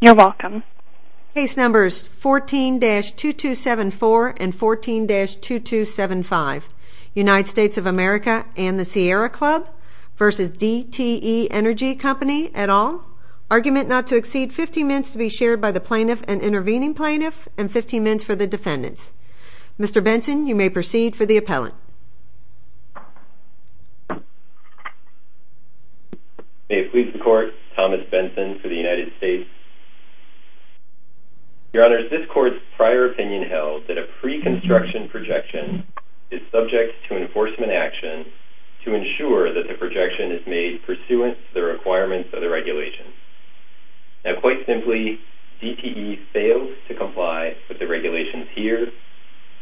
You're welcome. Case numbers 14-2274 and 14-2275. United States of America and the Sierra Club v. DTE Energy Company et al. Argument not to exceed 15 minutes to be shared by the plaintiff and intervening plaintiff and 15 minutes for the defendants. Mr. Benson, you may proceed for the appellant. May it please the court, Thomas Benson for the United States. Your honors, this court's prior opinion held that a pre-construction projection is subject to enforcement action to ensure that the projection is made pursuant to the requirements of the regulation. Now, quite simply, DTE fails to comply with the regulations here,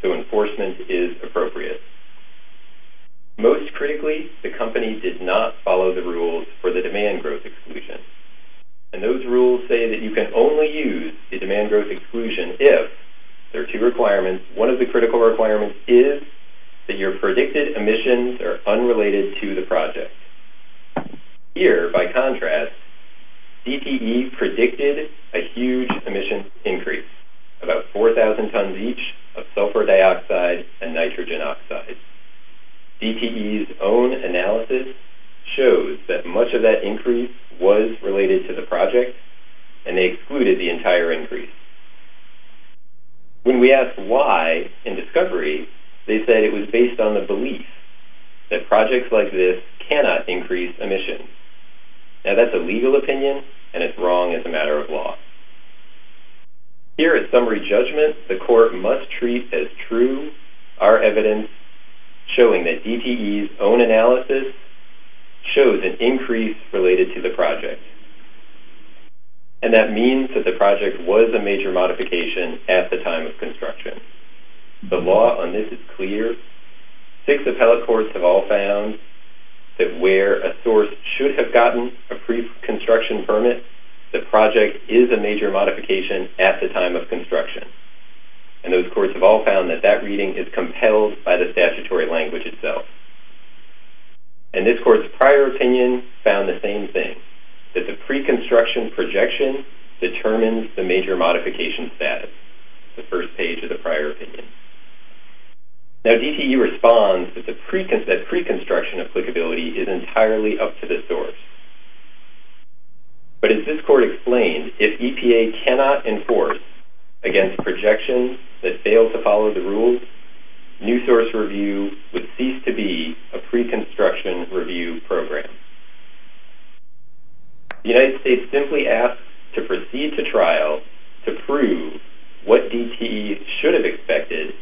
so enforcement is appropriate. Most critically, the company did not follow the rules for the demand growth exclusion. And those rules say that you can only use the demand growth exclusion if there are two requirements. One of the critical requirements is that your predicted emissions are unrelated to the project. Here, by contrast, DTE predicted a huge emissions increase, about 4,000 tons each of sulfur dioxide and nitrogen oxide. DTE's own analysis shows that much of that increase was related to the project, and they excluded the entire increase. When we asked why in discovery, they said it was based on the belief that projects like this cannot increase emissions. Now, that's a legal opinion, and it's wrong as a matter of law. Here at summary judgment, the court must treat as true our evidence showing that DTE's own analysis shows an increase related to the project. And that means that the project was a major modification at the time of construction. The law on this is clear. Six appellate courts have all found that where a source should have gotten a pre-construction permit, the project is a major modification at the time of construction. And those courts have all found that that reading is compelled by the statutory language itself. And this court's prior opinion found the same thing, that the pre-construction projection determines the major modification status, the first page of the prior opinion. Now, DTE responds that pre-construction applicability is entirely up to the source. But as this court explained, if EPA cannot enforce against projections that fail to follow the rules, new source review would cease to be a pre-construction review program. The United States simply asks to proceed to trial to prove what DTE should have expected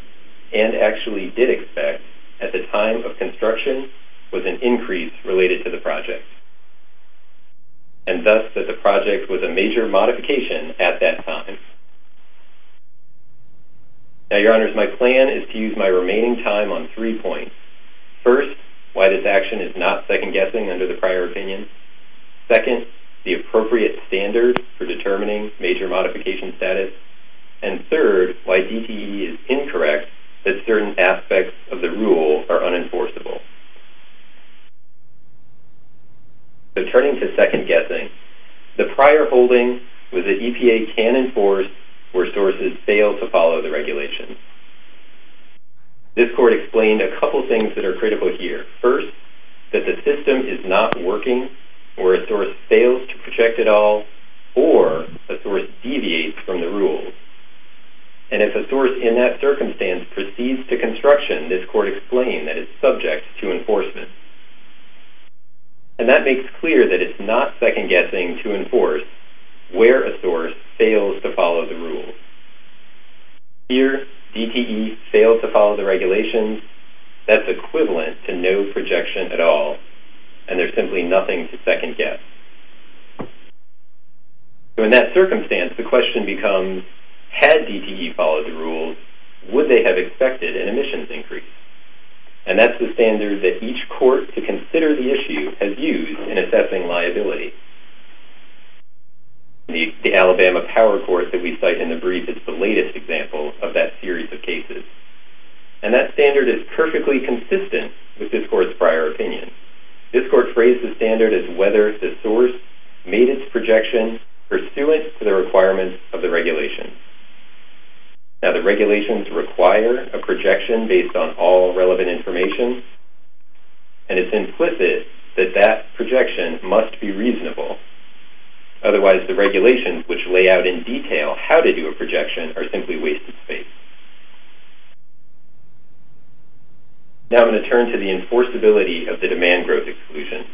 and actually did expect at the time of construction was an increase related to the project, and thus that the project was a major modification at that time. Now, Your Honors, my plan is to use my remaining time on three points. First, why this action is not second-guessing under the prior opinion. Second, the appropriate standard for determining major modification status. And third, why DTE is incorrect that certain aspects of the rule are unenforceable. So turning to second-guessing, the prior holding was that EPA can enforce where sources fail to follow the regulations. This court explained a couple things that are critical here. First, that the system is not working or a source fails to project at all or a source deviates from the rules. And if a source in that circumstance proceeds to construction, this court explained that it's subject to enforcement. And that makes clear that it's not second-guessing to enforce where a source fails to follow the rules. Here, DTE failed to follow the regulations, that's equivalent to no projection at all, and there's simply nothing to second-guess. So in that circumstance, the question becomes, had DTE followed the rules, would they have expected an emissions increase? And that's the standard that each court to consider the issue has used in assessing liability. The Alabama Power Court that we cite in the brief is the latest example of that series of cases. And that standard is perfectly consistent with this court's prior opinion. This court phrased the standard as whether the source made its projection pursuant to the requirements of the regulation. Now, the regulations require a projection based on all relevant information, and it's implicit that that projection must be reasonable. Otherwise, the regulations which lay out in detail how to do a projection are simply wasted space. Now I'm going to turn to the enforceability of the demand growth exclusion.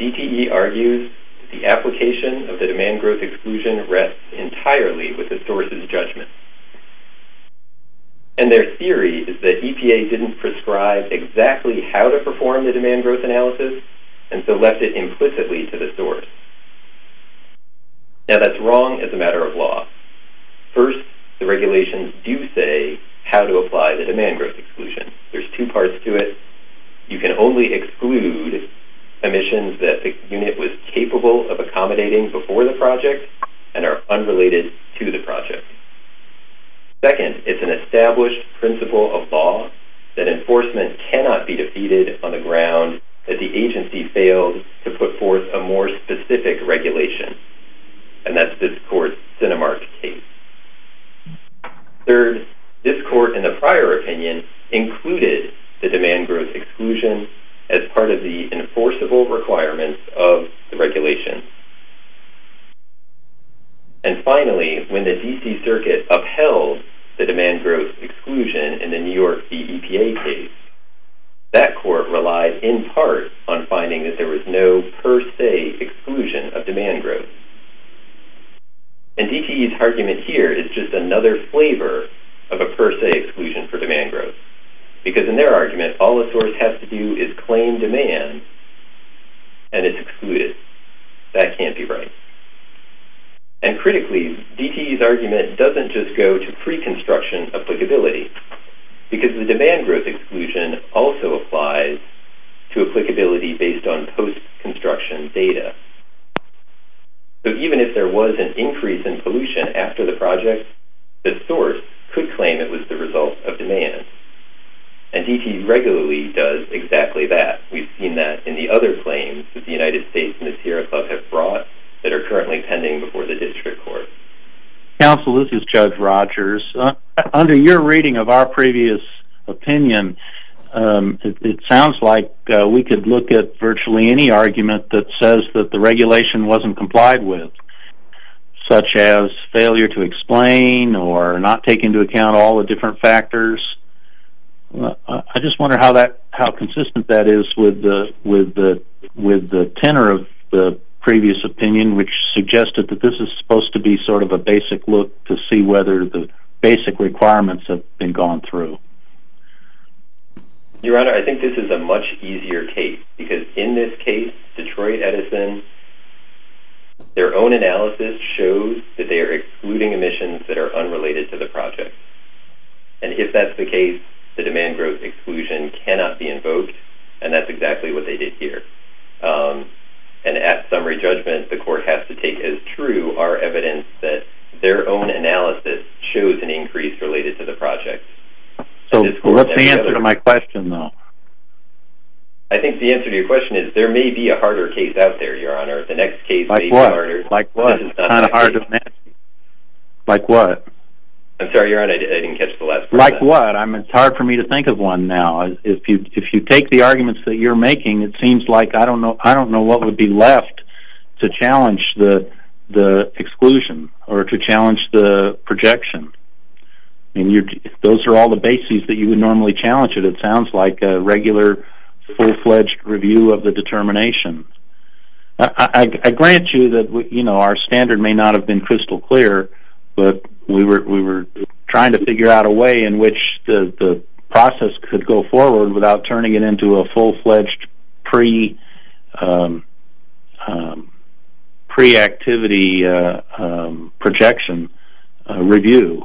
DTE argues that the application of the demand growth exclusion rests entirely with the source's judgment. And their theory is that EPA didn't prescribe exactly how to perform the demand growth analysis and so left it implicitly to the source. Now, that's wrong as a matter of law. First, the regulations do say how to apply the demand growth exclusion. There's two parts to it. You can only exclude emissions that the unit was capable of accommodating before the project and are unrelated to the project. Second, it's an established principle of law that enforcement cannot be defeated on the ground that the agency failed to put forth a more specific regulation. And that's this court's Cinemark case. Third, this court in the prior opinion included the demand growth exclusion as part of the enforceable requirements of the regulation. And finally, when the D.C. Circuit upheld the demand growth exclusion in the New York v. EPA case, that court relied in part on finding that there was no per se exclusion of demand growth. And DTE's argument here is just another flavor of a per se exclusion for demand growth because in their argument, all the source has to do is claim demand and it's excluded. That can't be right. And critically, DTE's argument doesn't just go to pre-construction applicability because the demand growth exclusion also applies to applicability based on post-construction data. So even if there was an increase in pollution after the project, the source could claim it was the result of demand. And DTE regularly does exactly that. We've seen that in the other claims that the United States and the Sierra Club have brought that are currently pending before the district court. Counsel, this is Judge Rogers. Under your reading of our previous opinion, it sounds like we could look at virtually any argument that says that the regulation wasn't complied with, such as failure to explain or not take into account all the different factors. I just wonder how consistent that is with the tenor of the previous opinion, which suggested that this is supposed to be sort of a basic look to see whether the basic requirements have been gone through. Your Honor, I think this is a much easier case because in this case, Detroit Edison, their own analysis shows that they are excluding emissions that are unrelated to the project. And if that's the case, the demand growth exclusion cannot be invoked, and that's exactly what they did here. And at summary judgment, the court has to take as true our evidence that their own analysis shows an increase related to the project. So what's the answer to my question, though? I think the answer to your question is there may be a harder case out there, Your Honor. The next case may be harder. Like what? Like what? I'm sorry, Your Honor, I didn't catch the last part of that. Like what? It's hard for me to think of one now. If you take the arguments that you're making, it seems like I don't know what would be left to challenge the exclusion or to challenge the projection. Those are all the bases that you would normally challenge it. It sounds like a regular, full-fledged review of the determination. I grant you that our standard may not have been crystal clear, but we were trying to figure out a way in which the process could go forward without turning it into a full-fledged pre-activity projection review.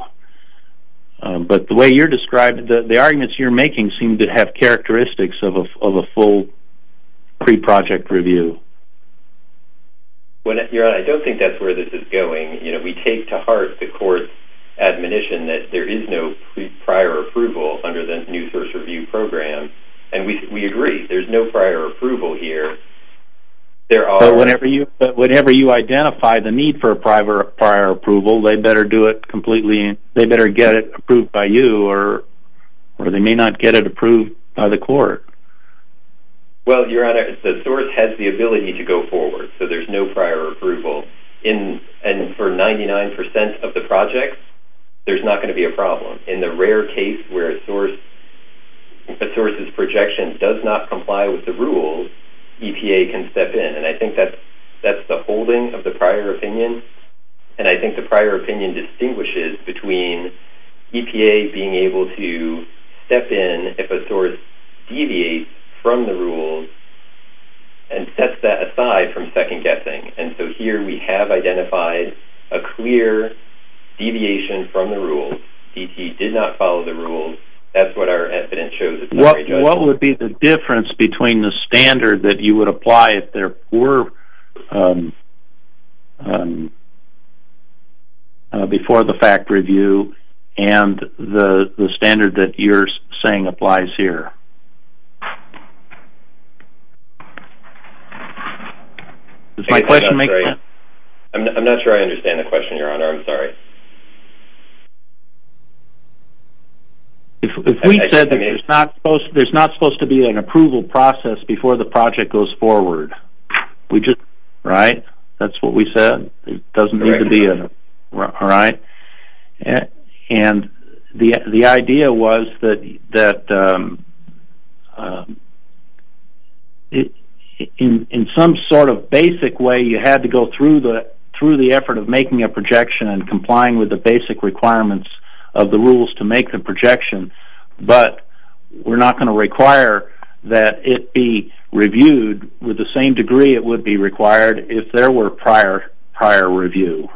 But the way you're describing it, the arguments you're making seem to have characteristics of a full pre-project review. Your Honor, I don't think that's where this is going. We take to heart the court's admonition that there is no prior approval under the New Source Review Program, and we agree. There's no prior approval here. But whenever you identify the need for a prior approval, they better do it completely and they better get it approved by you or they may not get it approved by the court. Well, Your Honor, the source has the ability to go forward, so there's no prior approval. And for 99% of the projects, there's not going to be a problem. In the rare case where a source's projection does not comply with the rules, EPA can step in, and I think that's the holding of the prior opinion, and I think the prior opinion distinguishes between EPA being able to step in if a source deviates from the rules and sets that aside from second guessing. And so here we have identified a clear deviation from the rules. DT did not follow the rules. That's what our evidence shows. What would be the difference between the standard that you would apply if there were before the fact review and the standard that you're saying applies here? Does my question make sense? I'm not sure I understand the question, Your Honor. I'm sorry. If we said that there's not supposed to be an approval process before the project goes forward, right, that's what we said? It doesn't need to be, right? And the idea was that in some sort of basic way, you had to go through the effort of making a projection and complying with the basic requirements of the rules to make the projection, but we're not going to require that it be reviewed with the same degree it would be required if there were prior review,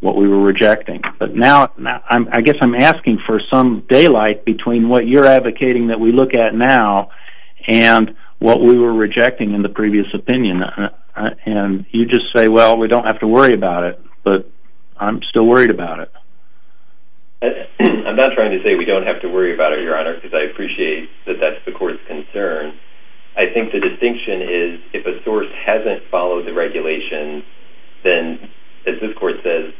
what we were rejecting. But now I guess I'm asking for some daylight between what you're advocating that we look at now and what we were rejecting in the previous opinion. And you just say, well, we don't have to worry about it, but I'm still worried about it. I'm not trying to say we don't have to worry about it, Your Honor, because I appreciate that that's the court's concern. I think the distinction is if a source hasn't followed the regulations, then, as this court says,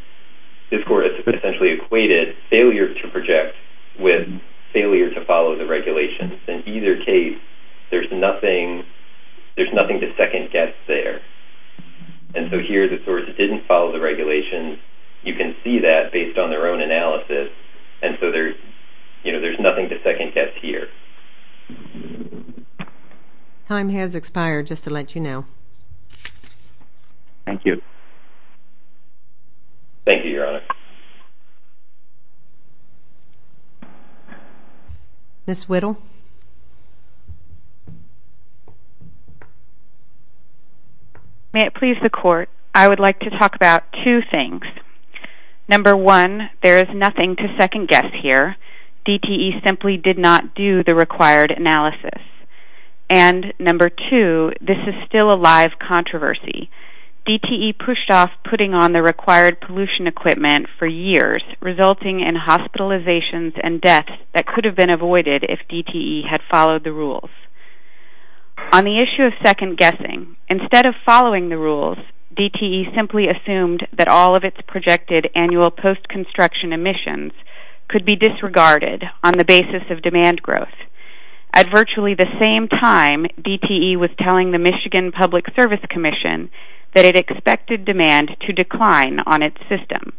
this court has essentially equated failure to project with failure to follow the regulations. In either case, there's nothing to second-guess there. And so here the source didn't follow the regulations. You can see that based on their own analysis. And so there's nothing to second-guess here. Time has expired, just to let you know. Thank you. Thank you, Your Honor. Ms. Whittle. May it please the court, I would like to talk about two things. Number one, there is nothing to second-guess here. DTE simply did not do the required analysis. And number two, this is still a live controversy. DTE pushed off putting on the required pollution equipment for years, resulting in hospitalizations and deaths that could have been avoided if DTE had followed the rules. On the issue of second-guessing, instead of following the rules, DTE simply assumed that all of its projected annual post-construction emissions could be disregarded on the basis of demand growth. At virtually the same time, DTE was telling the Michigan Public Service Commission that it expected demand to decline on its system.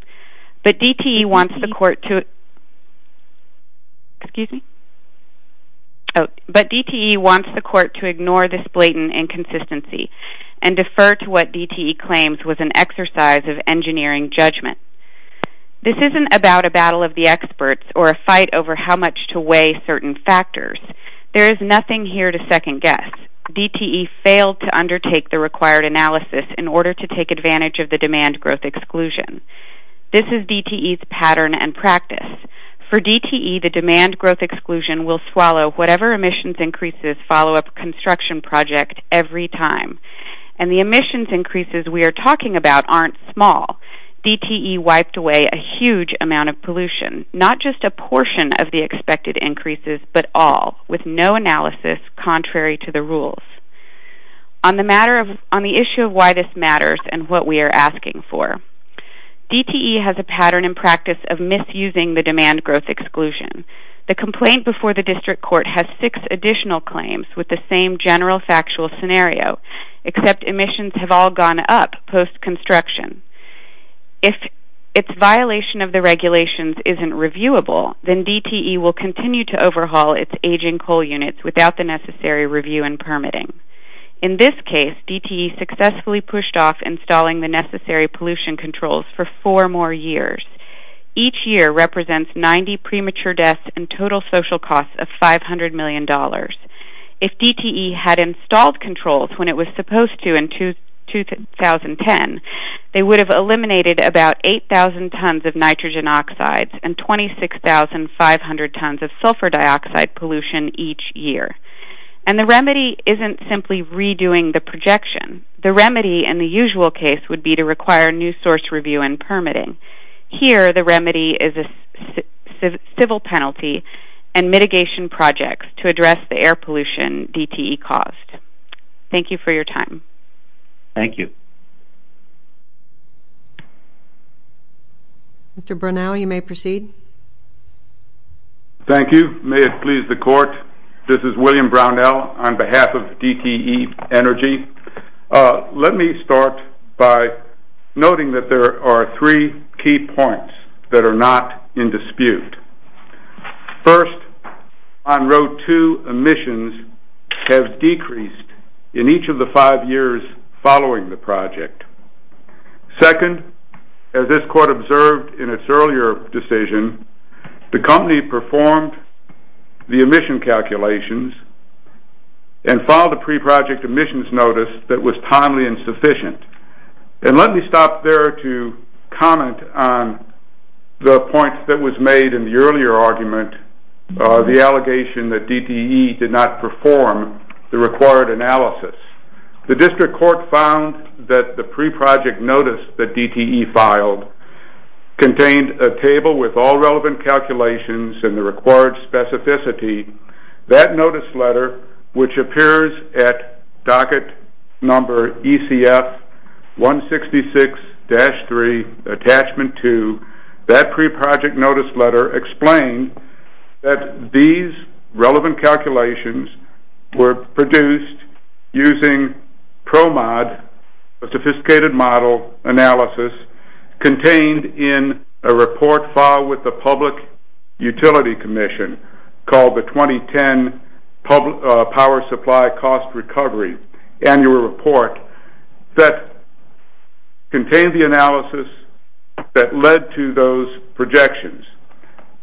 But DTE wants the court to ignore this blatant inconsistency and defer to what DTE claims was an exercise of engineering judgment. This isn't about a battle of the experts or a fight over how much to weigh certain factors. There is nothing here to second-guess. DTE failed to undertake the required analysis in order to take advantage of the demand growth exclusion. This is DTE's pattern and practice. For DTE, the demand growth exclusion will swallow whatever emissions increases follow up a construction project every time. And the emissions increases we are talking about aren't small. DTE wiped away a huge amount of pollution, not just a portion of the expected increases, but all, with no analysis contrary to the rules. On the issue of why this matters and what we are asking for, DTE has a pattern and practice of misusing the demand growth exclusion. The complaint before the district court has six additional claims with the same general factual scenario, except emissions have all gone up post-construction. If its violation of the regulations isn't reviewable, then DTE will continue to overhaul its aging coal units without the necessary review and permitting. In this case, DTE successfully pushed off installing the necessary pollution controls for four more years. Each year represents 90 premature deaths and total social costs of $500 million. If DTE had installed controls when it was supposed to in 2010, they would have eliminated about 8,000 tons of nitrogen oxides and 26,500 tons of sulfur dioxide pollution each year. And the remedy isn't simply redoing the projection. The remedy in the usual case would be to require new source review and permitting. Here the remedy is a civil penalty and mitigation projects to address the air pollution DTE caused. Thank you for your time. Thank you. Mr. Brunel, you may proceed. Thank you. May it please the court, this is William Brunel on behalf of DTE Energy. Let me start by noting that there are three key points that are not in dispute. First, on row two, emissions have decreased in each of the five years following the project. Second, as this court observed in its earlier decision, the company performed the emission calculations and filed a pre-project emissions notice that was timely and sufficient. And let me stop there to comment on the point that was made in the earlier argument, the allegation that DTE did not perform the required analysis. The district court found that the pre-project notice that DTE filed contained a table with all relevant calculations and the required specificity. That notice letter, which appears at docket number ECF 166-3, attachment two, that pre-project notice letter explained that these relevant calculations were produced using PROMOD, a sophisticated model analysis, contained in a report filed with the Public Utility Commission called the 2010 Power Supply Cost Recovery Annual Report that contained the analysis that led to those projections.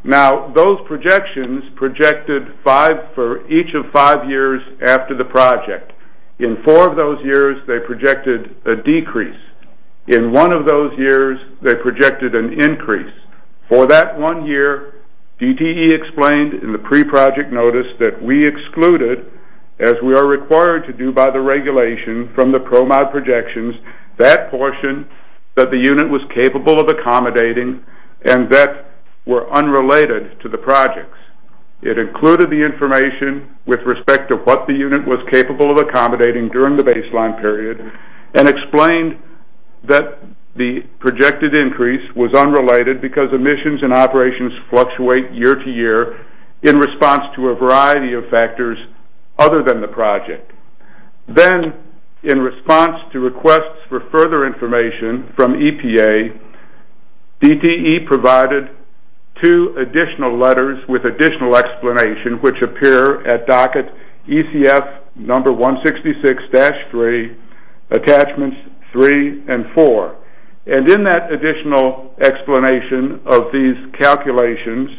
Now, those projections projected for each of five years after the project. In four of those years, they projected a decrease. In one of those years, they projected an increase. For that one year, DTE explained in the pre-project notice that we excluded, as we are required to do by the regulation, from the PROMOD projections that portion that the unit was capable of accommodating and that were unrelated to the projects. It included the information with respect to what the unit was capable of accommodating during the baseline period and explained that the projected increase was unrelated because emissions and operations fluctuate year to year in response to a variety of factors other than the project. Then, in response to requests for further information from EPA, DTE provided two additional letters with additional explanation, which appear at docket ECF number 166-3, attachments 3 and 4. And in that additional explanation of these calculations,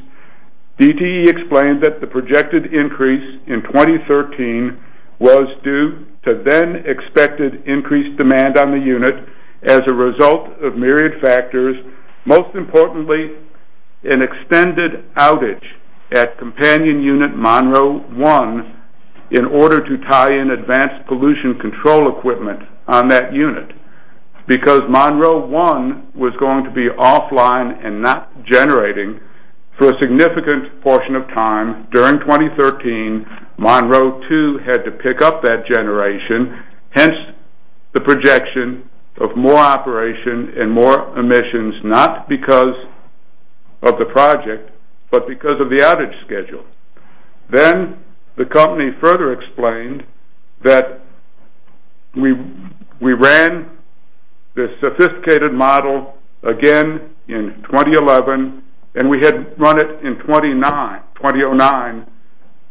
DTE explained that the projected increase in 2013 was due to then expected increased demand on the unit as a result of myriad factors, most importantly, an extended outage at companion unit Monroe-1 in order to tie in advanced pollution control equipment on that unit. Because Monroe-1 was going to be offline and not generating for a significant portion of time during 2013, Monroe-2 had to pick up that generation, hence the projection of more operation and more emissions, not because of the project, but because of the outage schedule. Then the company further explained that we ran this sophisticated model again in 2011 and we had run it in 2009,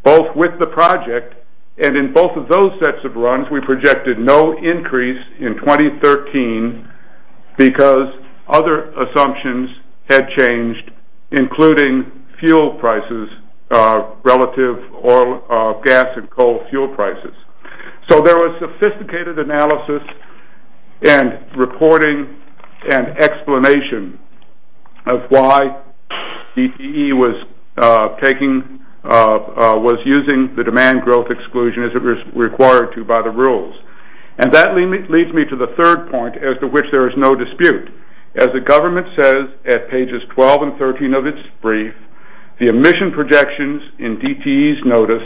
both with the project, and in both of those sets of runs we projected no increase in 2013 because other assumptions had changed, including fuel prices, relative oil, gas, and coal fuel prices. So there was sophisticated analysis and reporting and explanation of why DTE was using the demand growth exclusion as it was required to by the rules. And that leads me to the third point as to which there is no dispute. As the government says at pages 12 and 13 of its brief, the emission projections in DTE's notice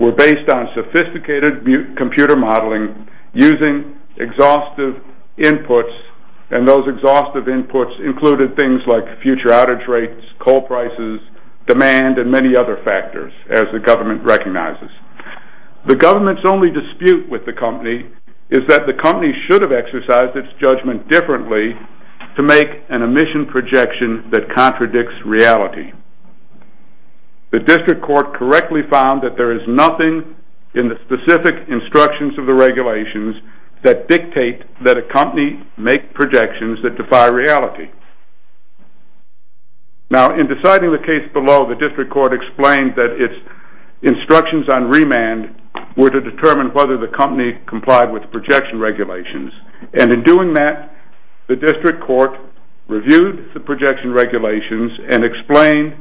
were based on sophisticated computer modeling using exhaustive inputs, and those exhaustive inputs included things like future outage rates, coal prices, demand, and many other factors, as the government recognizes. The government's only dispute with the company is that the company should have exercised its judgment differently to make an emission projection that contradicts reality. The district court correctly found that there is nothing in the specific instructions of the regulations that dictate that a company make projections that defy reality. Now, in deciding the case below, the district court explained that its instructions on remand were to determine whether the company complied with projection regulations, and in doing that, the district court reviewed the projection regulations and explained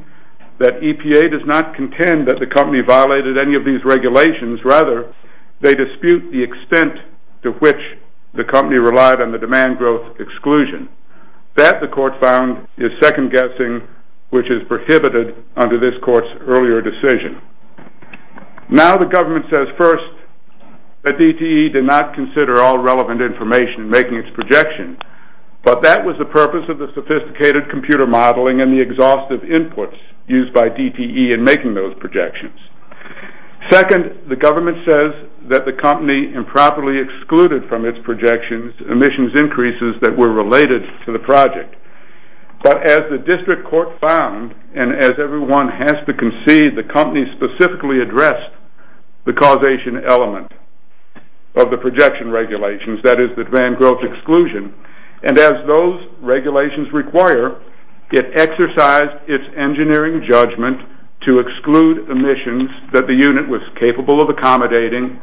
that EPA does not contend that the company violated any of these regulations. Rather, they dispute the extent to which the company relied on the demand growth exclusion. That, the court found, is second-guessing, which is prohibited under this court's earlier decision. Now, the government says first that DTE did not consider all relevant information in making its projection, but that was the purpose of the sophisticated computer modeling and the exhaustive inputs used by DTE in making those projections. Second, the government says that the company improperly excluded from its projections emissions increases that were related to the project. But as the district court found, and as everyone has to concede, the company specifically addressed the causation element of the projection regulations, that is, the demand growth exclusion, and as those regulations require, it exercised its engineering judgment to exclude emissions that the unit was capable of accommodating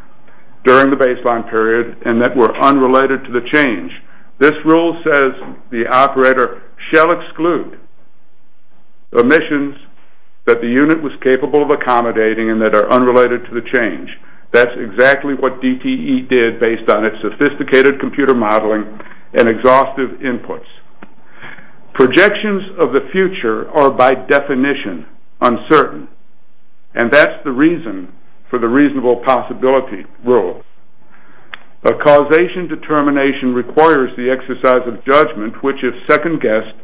during the baseline period and that were unrelated to the change. This rule says the operator shall exclude emissions that the unit was capable of accommodating and that are unrelated to the change. That's exactly what DTE did based on its sophisticated computer modeling and exhaustive inputs. Projections of the future are by definition uncertain, and that's the reason for the reasonable possibility rule. A causation determination requires the exercise of judgment, which, if second-guessed,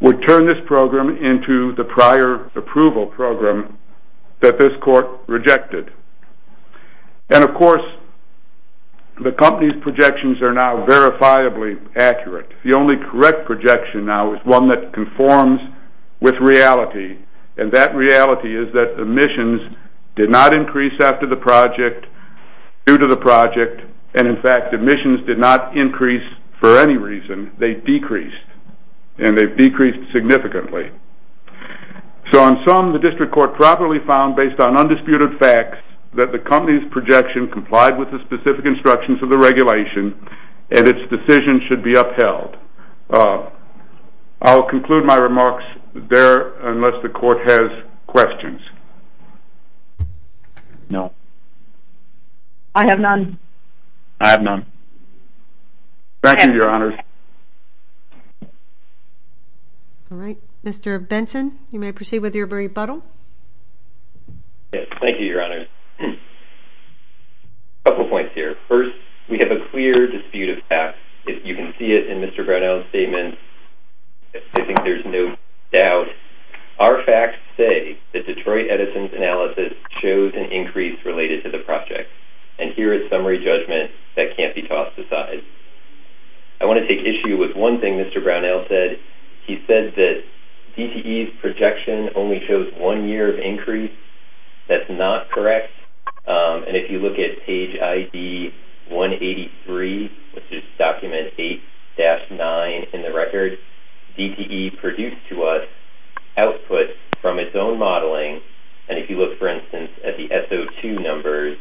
would turn this program into the prior approval program that this court rejected. And of course, the company's projections are now verifiably accurate. The only correct projection now is one that conforms with reality, and that reality is that emissions did not increase after the project, due to the project, and in fact emissions did not increase for any reason. They decreased, and they've decreased significantly. So in sum, the district court properly found, based on undisputed facts, that the company's projection complied with the specific instructions of the regulation and its decision should be upheld. I'll conclude my remarks there unless the court has questions. No. I have none. I have none. Thank you, Your Honors. All right. Mr. Benson, you may proceed with your rebuttal. Yes. Thank you, Your Honors. A couple points here. First, we have a clear dispute of facts. You can see it in Mr. Brownell's statement. I think there's no doubt. Our facts say that Detroit Edison's analysis shows an increase related to the project, and here is summary judgment that can't be tossed aside. I want to take issue with one thing Mr. Brownell said. He said that DTE's projection only shows one year of increase. That's not correct. And if you look at page ID 183, which is document 8-9 in the record, DTE produced to us output from its own modeling, and if you look, for instance, at the SO2 numbers,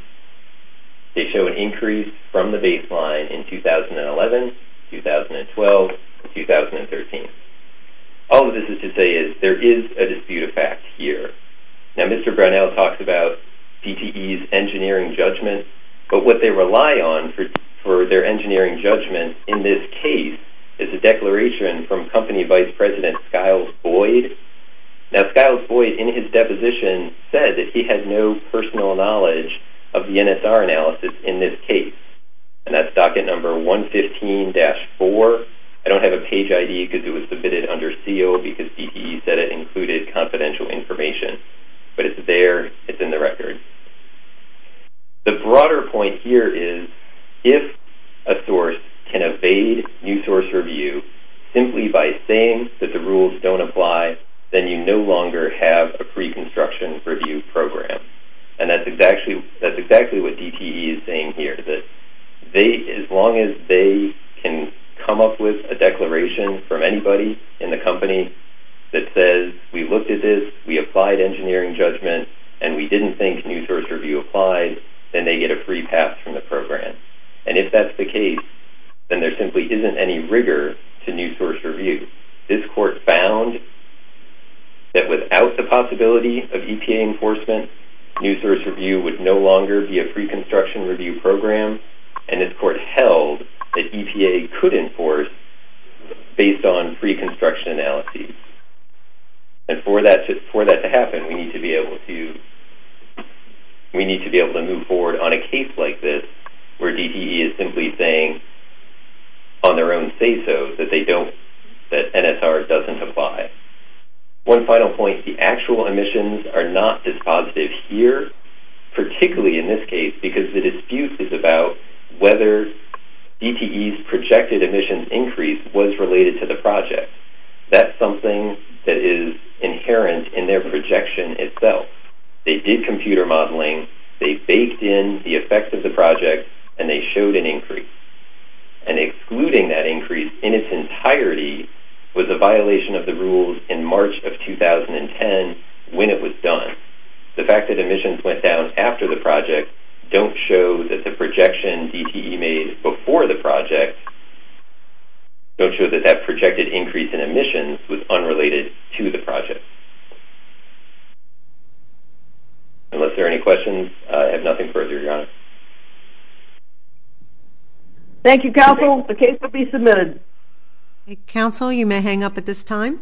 they show an increase from the baseline in 2011, 2012, and 2013. All of this is to say is there is a dispute of facts here. Now, Mr. Brownell talks about DTE's engineering judgment, but what they rely on for their engineering judgment in this case is a declaration from Company Vice President Skiles Boyd. Now, Skiles Boyd in his deposition said that he had no personal knowledge of the NSR analysis in this case, and that's docket number 115-4. I don't have a page ID because it was submitted under seal because DTE said it included confidential information, but it's there. It's in the record. The broader point here is if a source can evade new source review simply by saying that the rules don't apply then you no longer have a pre-construction review program, and that's exactly what DTE is saying here, that as long as they can come up with a declaration from anybody in the company that says we looked at this, we applied engineering judgment, and we didn't think new source review applied, then they get a free pass from the program, and if that's the case, then there simply isn't any rigor to new source review. This court found that without the possibility of EPA enforcement, new source review would no longer be a pre-construction review program, and this court held that EPA could enforce based on pre-construction analysis, and for that to happen we need to be able to move forward on a case like this where DTE is simply saying on their own say-so that NSR doesn't apply. One final point, the actual emissions are not dispositive here, particularly in this case, because the dispute is about whether DTE's projected emissions increase was related to the project. That's something that is inherent in their projection itself. They did computer modeling. They baked in the effect of the project, and they showed an increase, and excluding that increase in its entirety was a violation of the rules in March of 2010 when it was done. The fact that emissions went down after the project don't show that the projection DTE made before the project don't show that that projected increase in emissions was unrelated to the project. Unless there are any questions, I have nothing further to add. Thank you, counsel. The case will be submitted. Counsel, you may hang up at this time.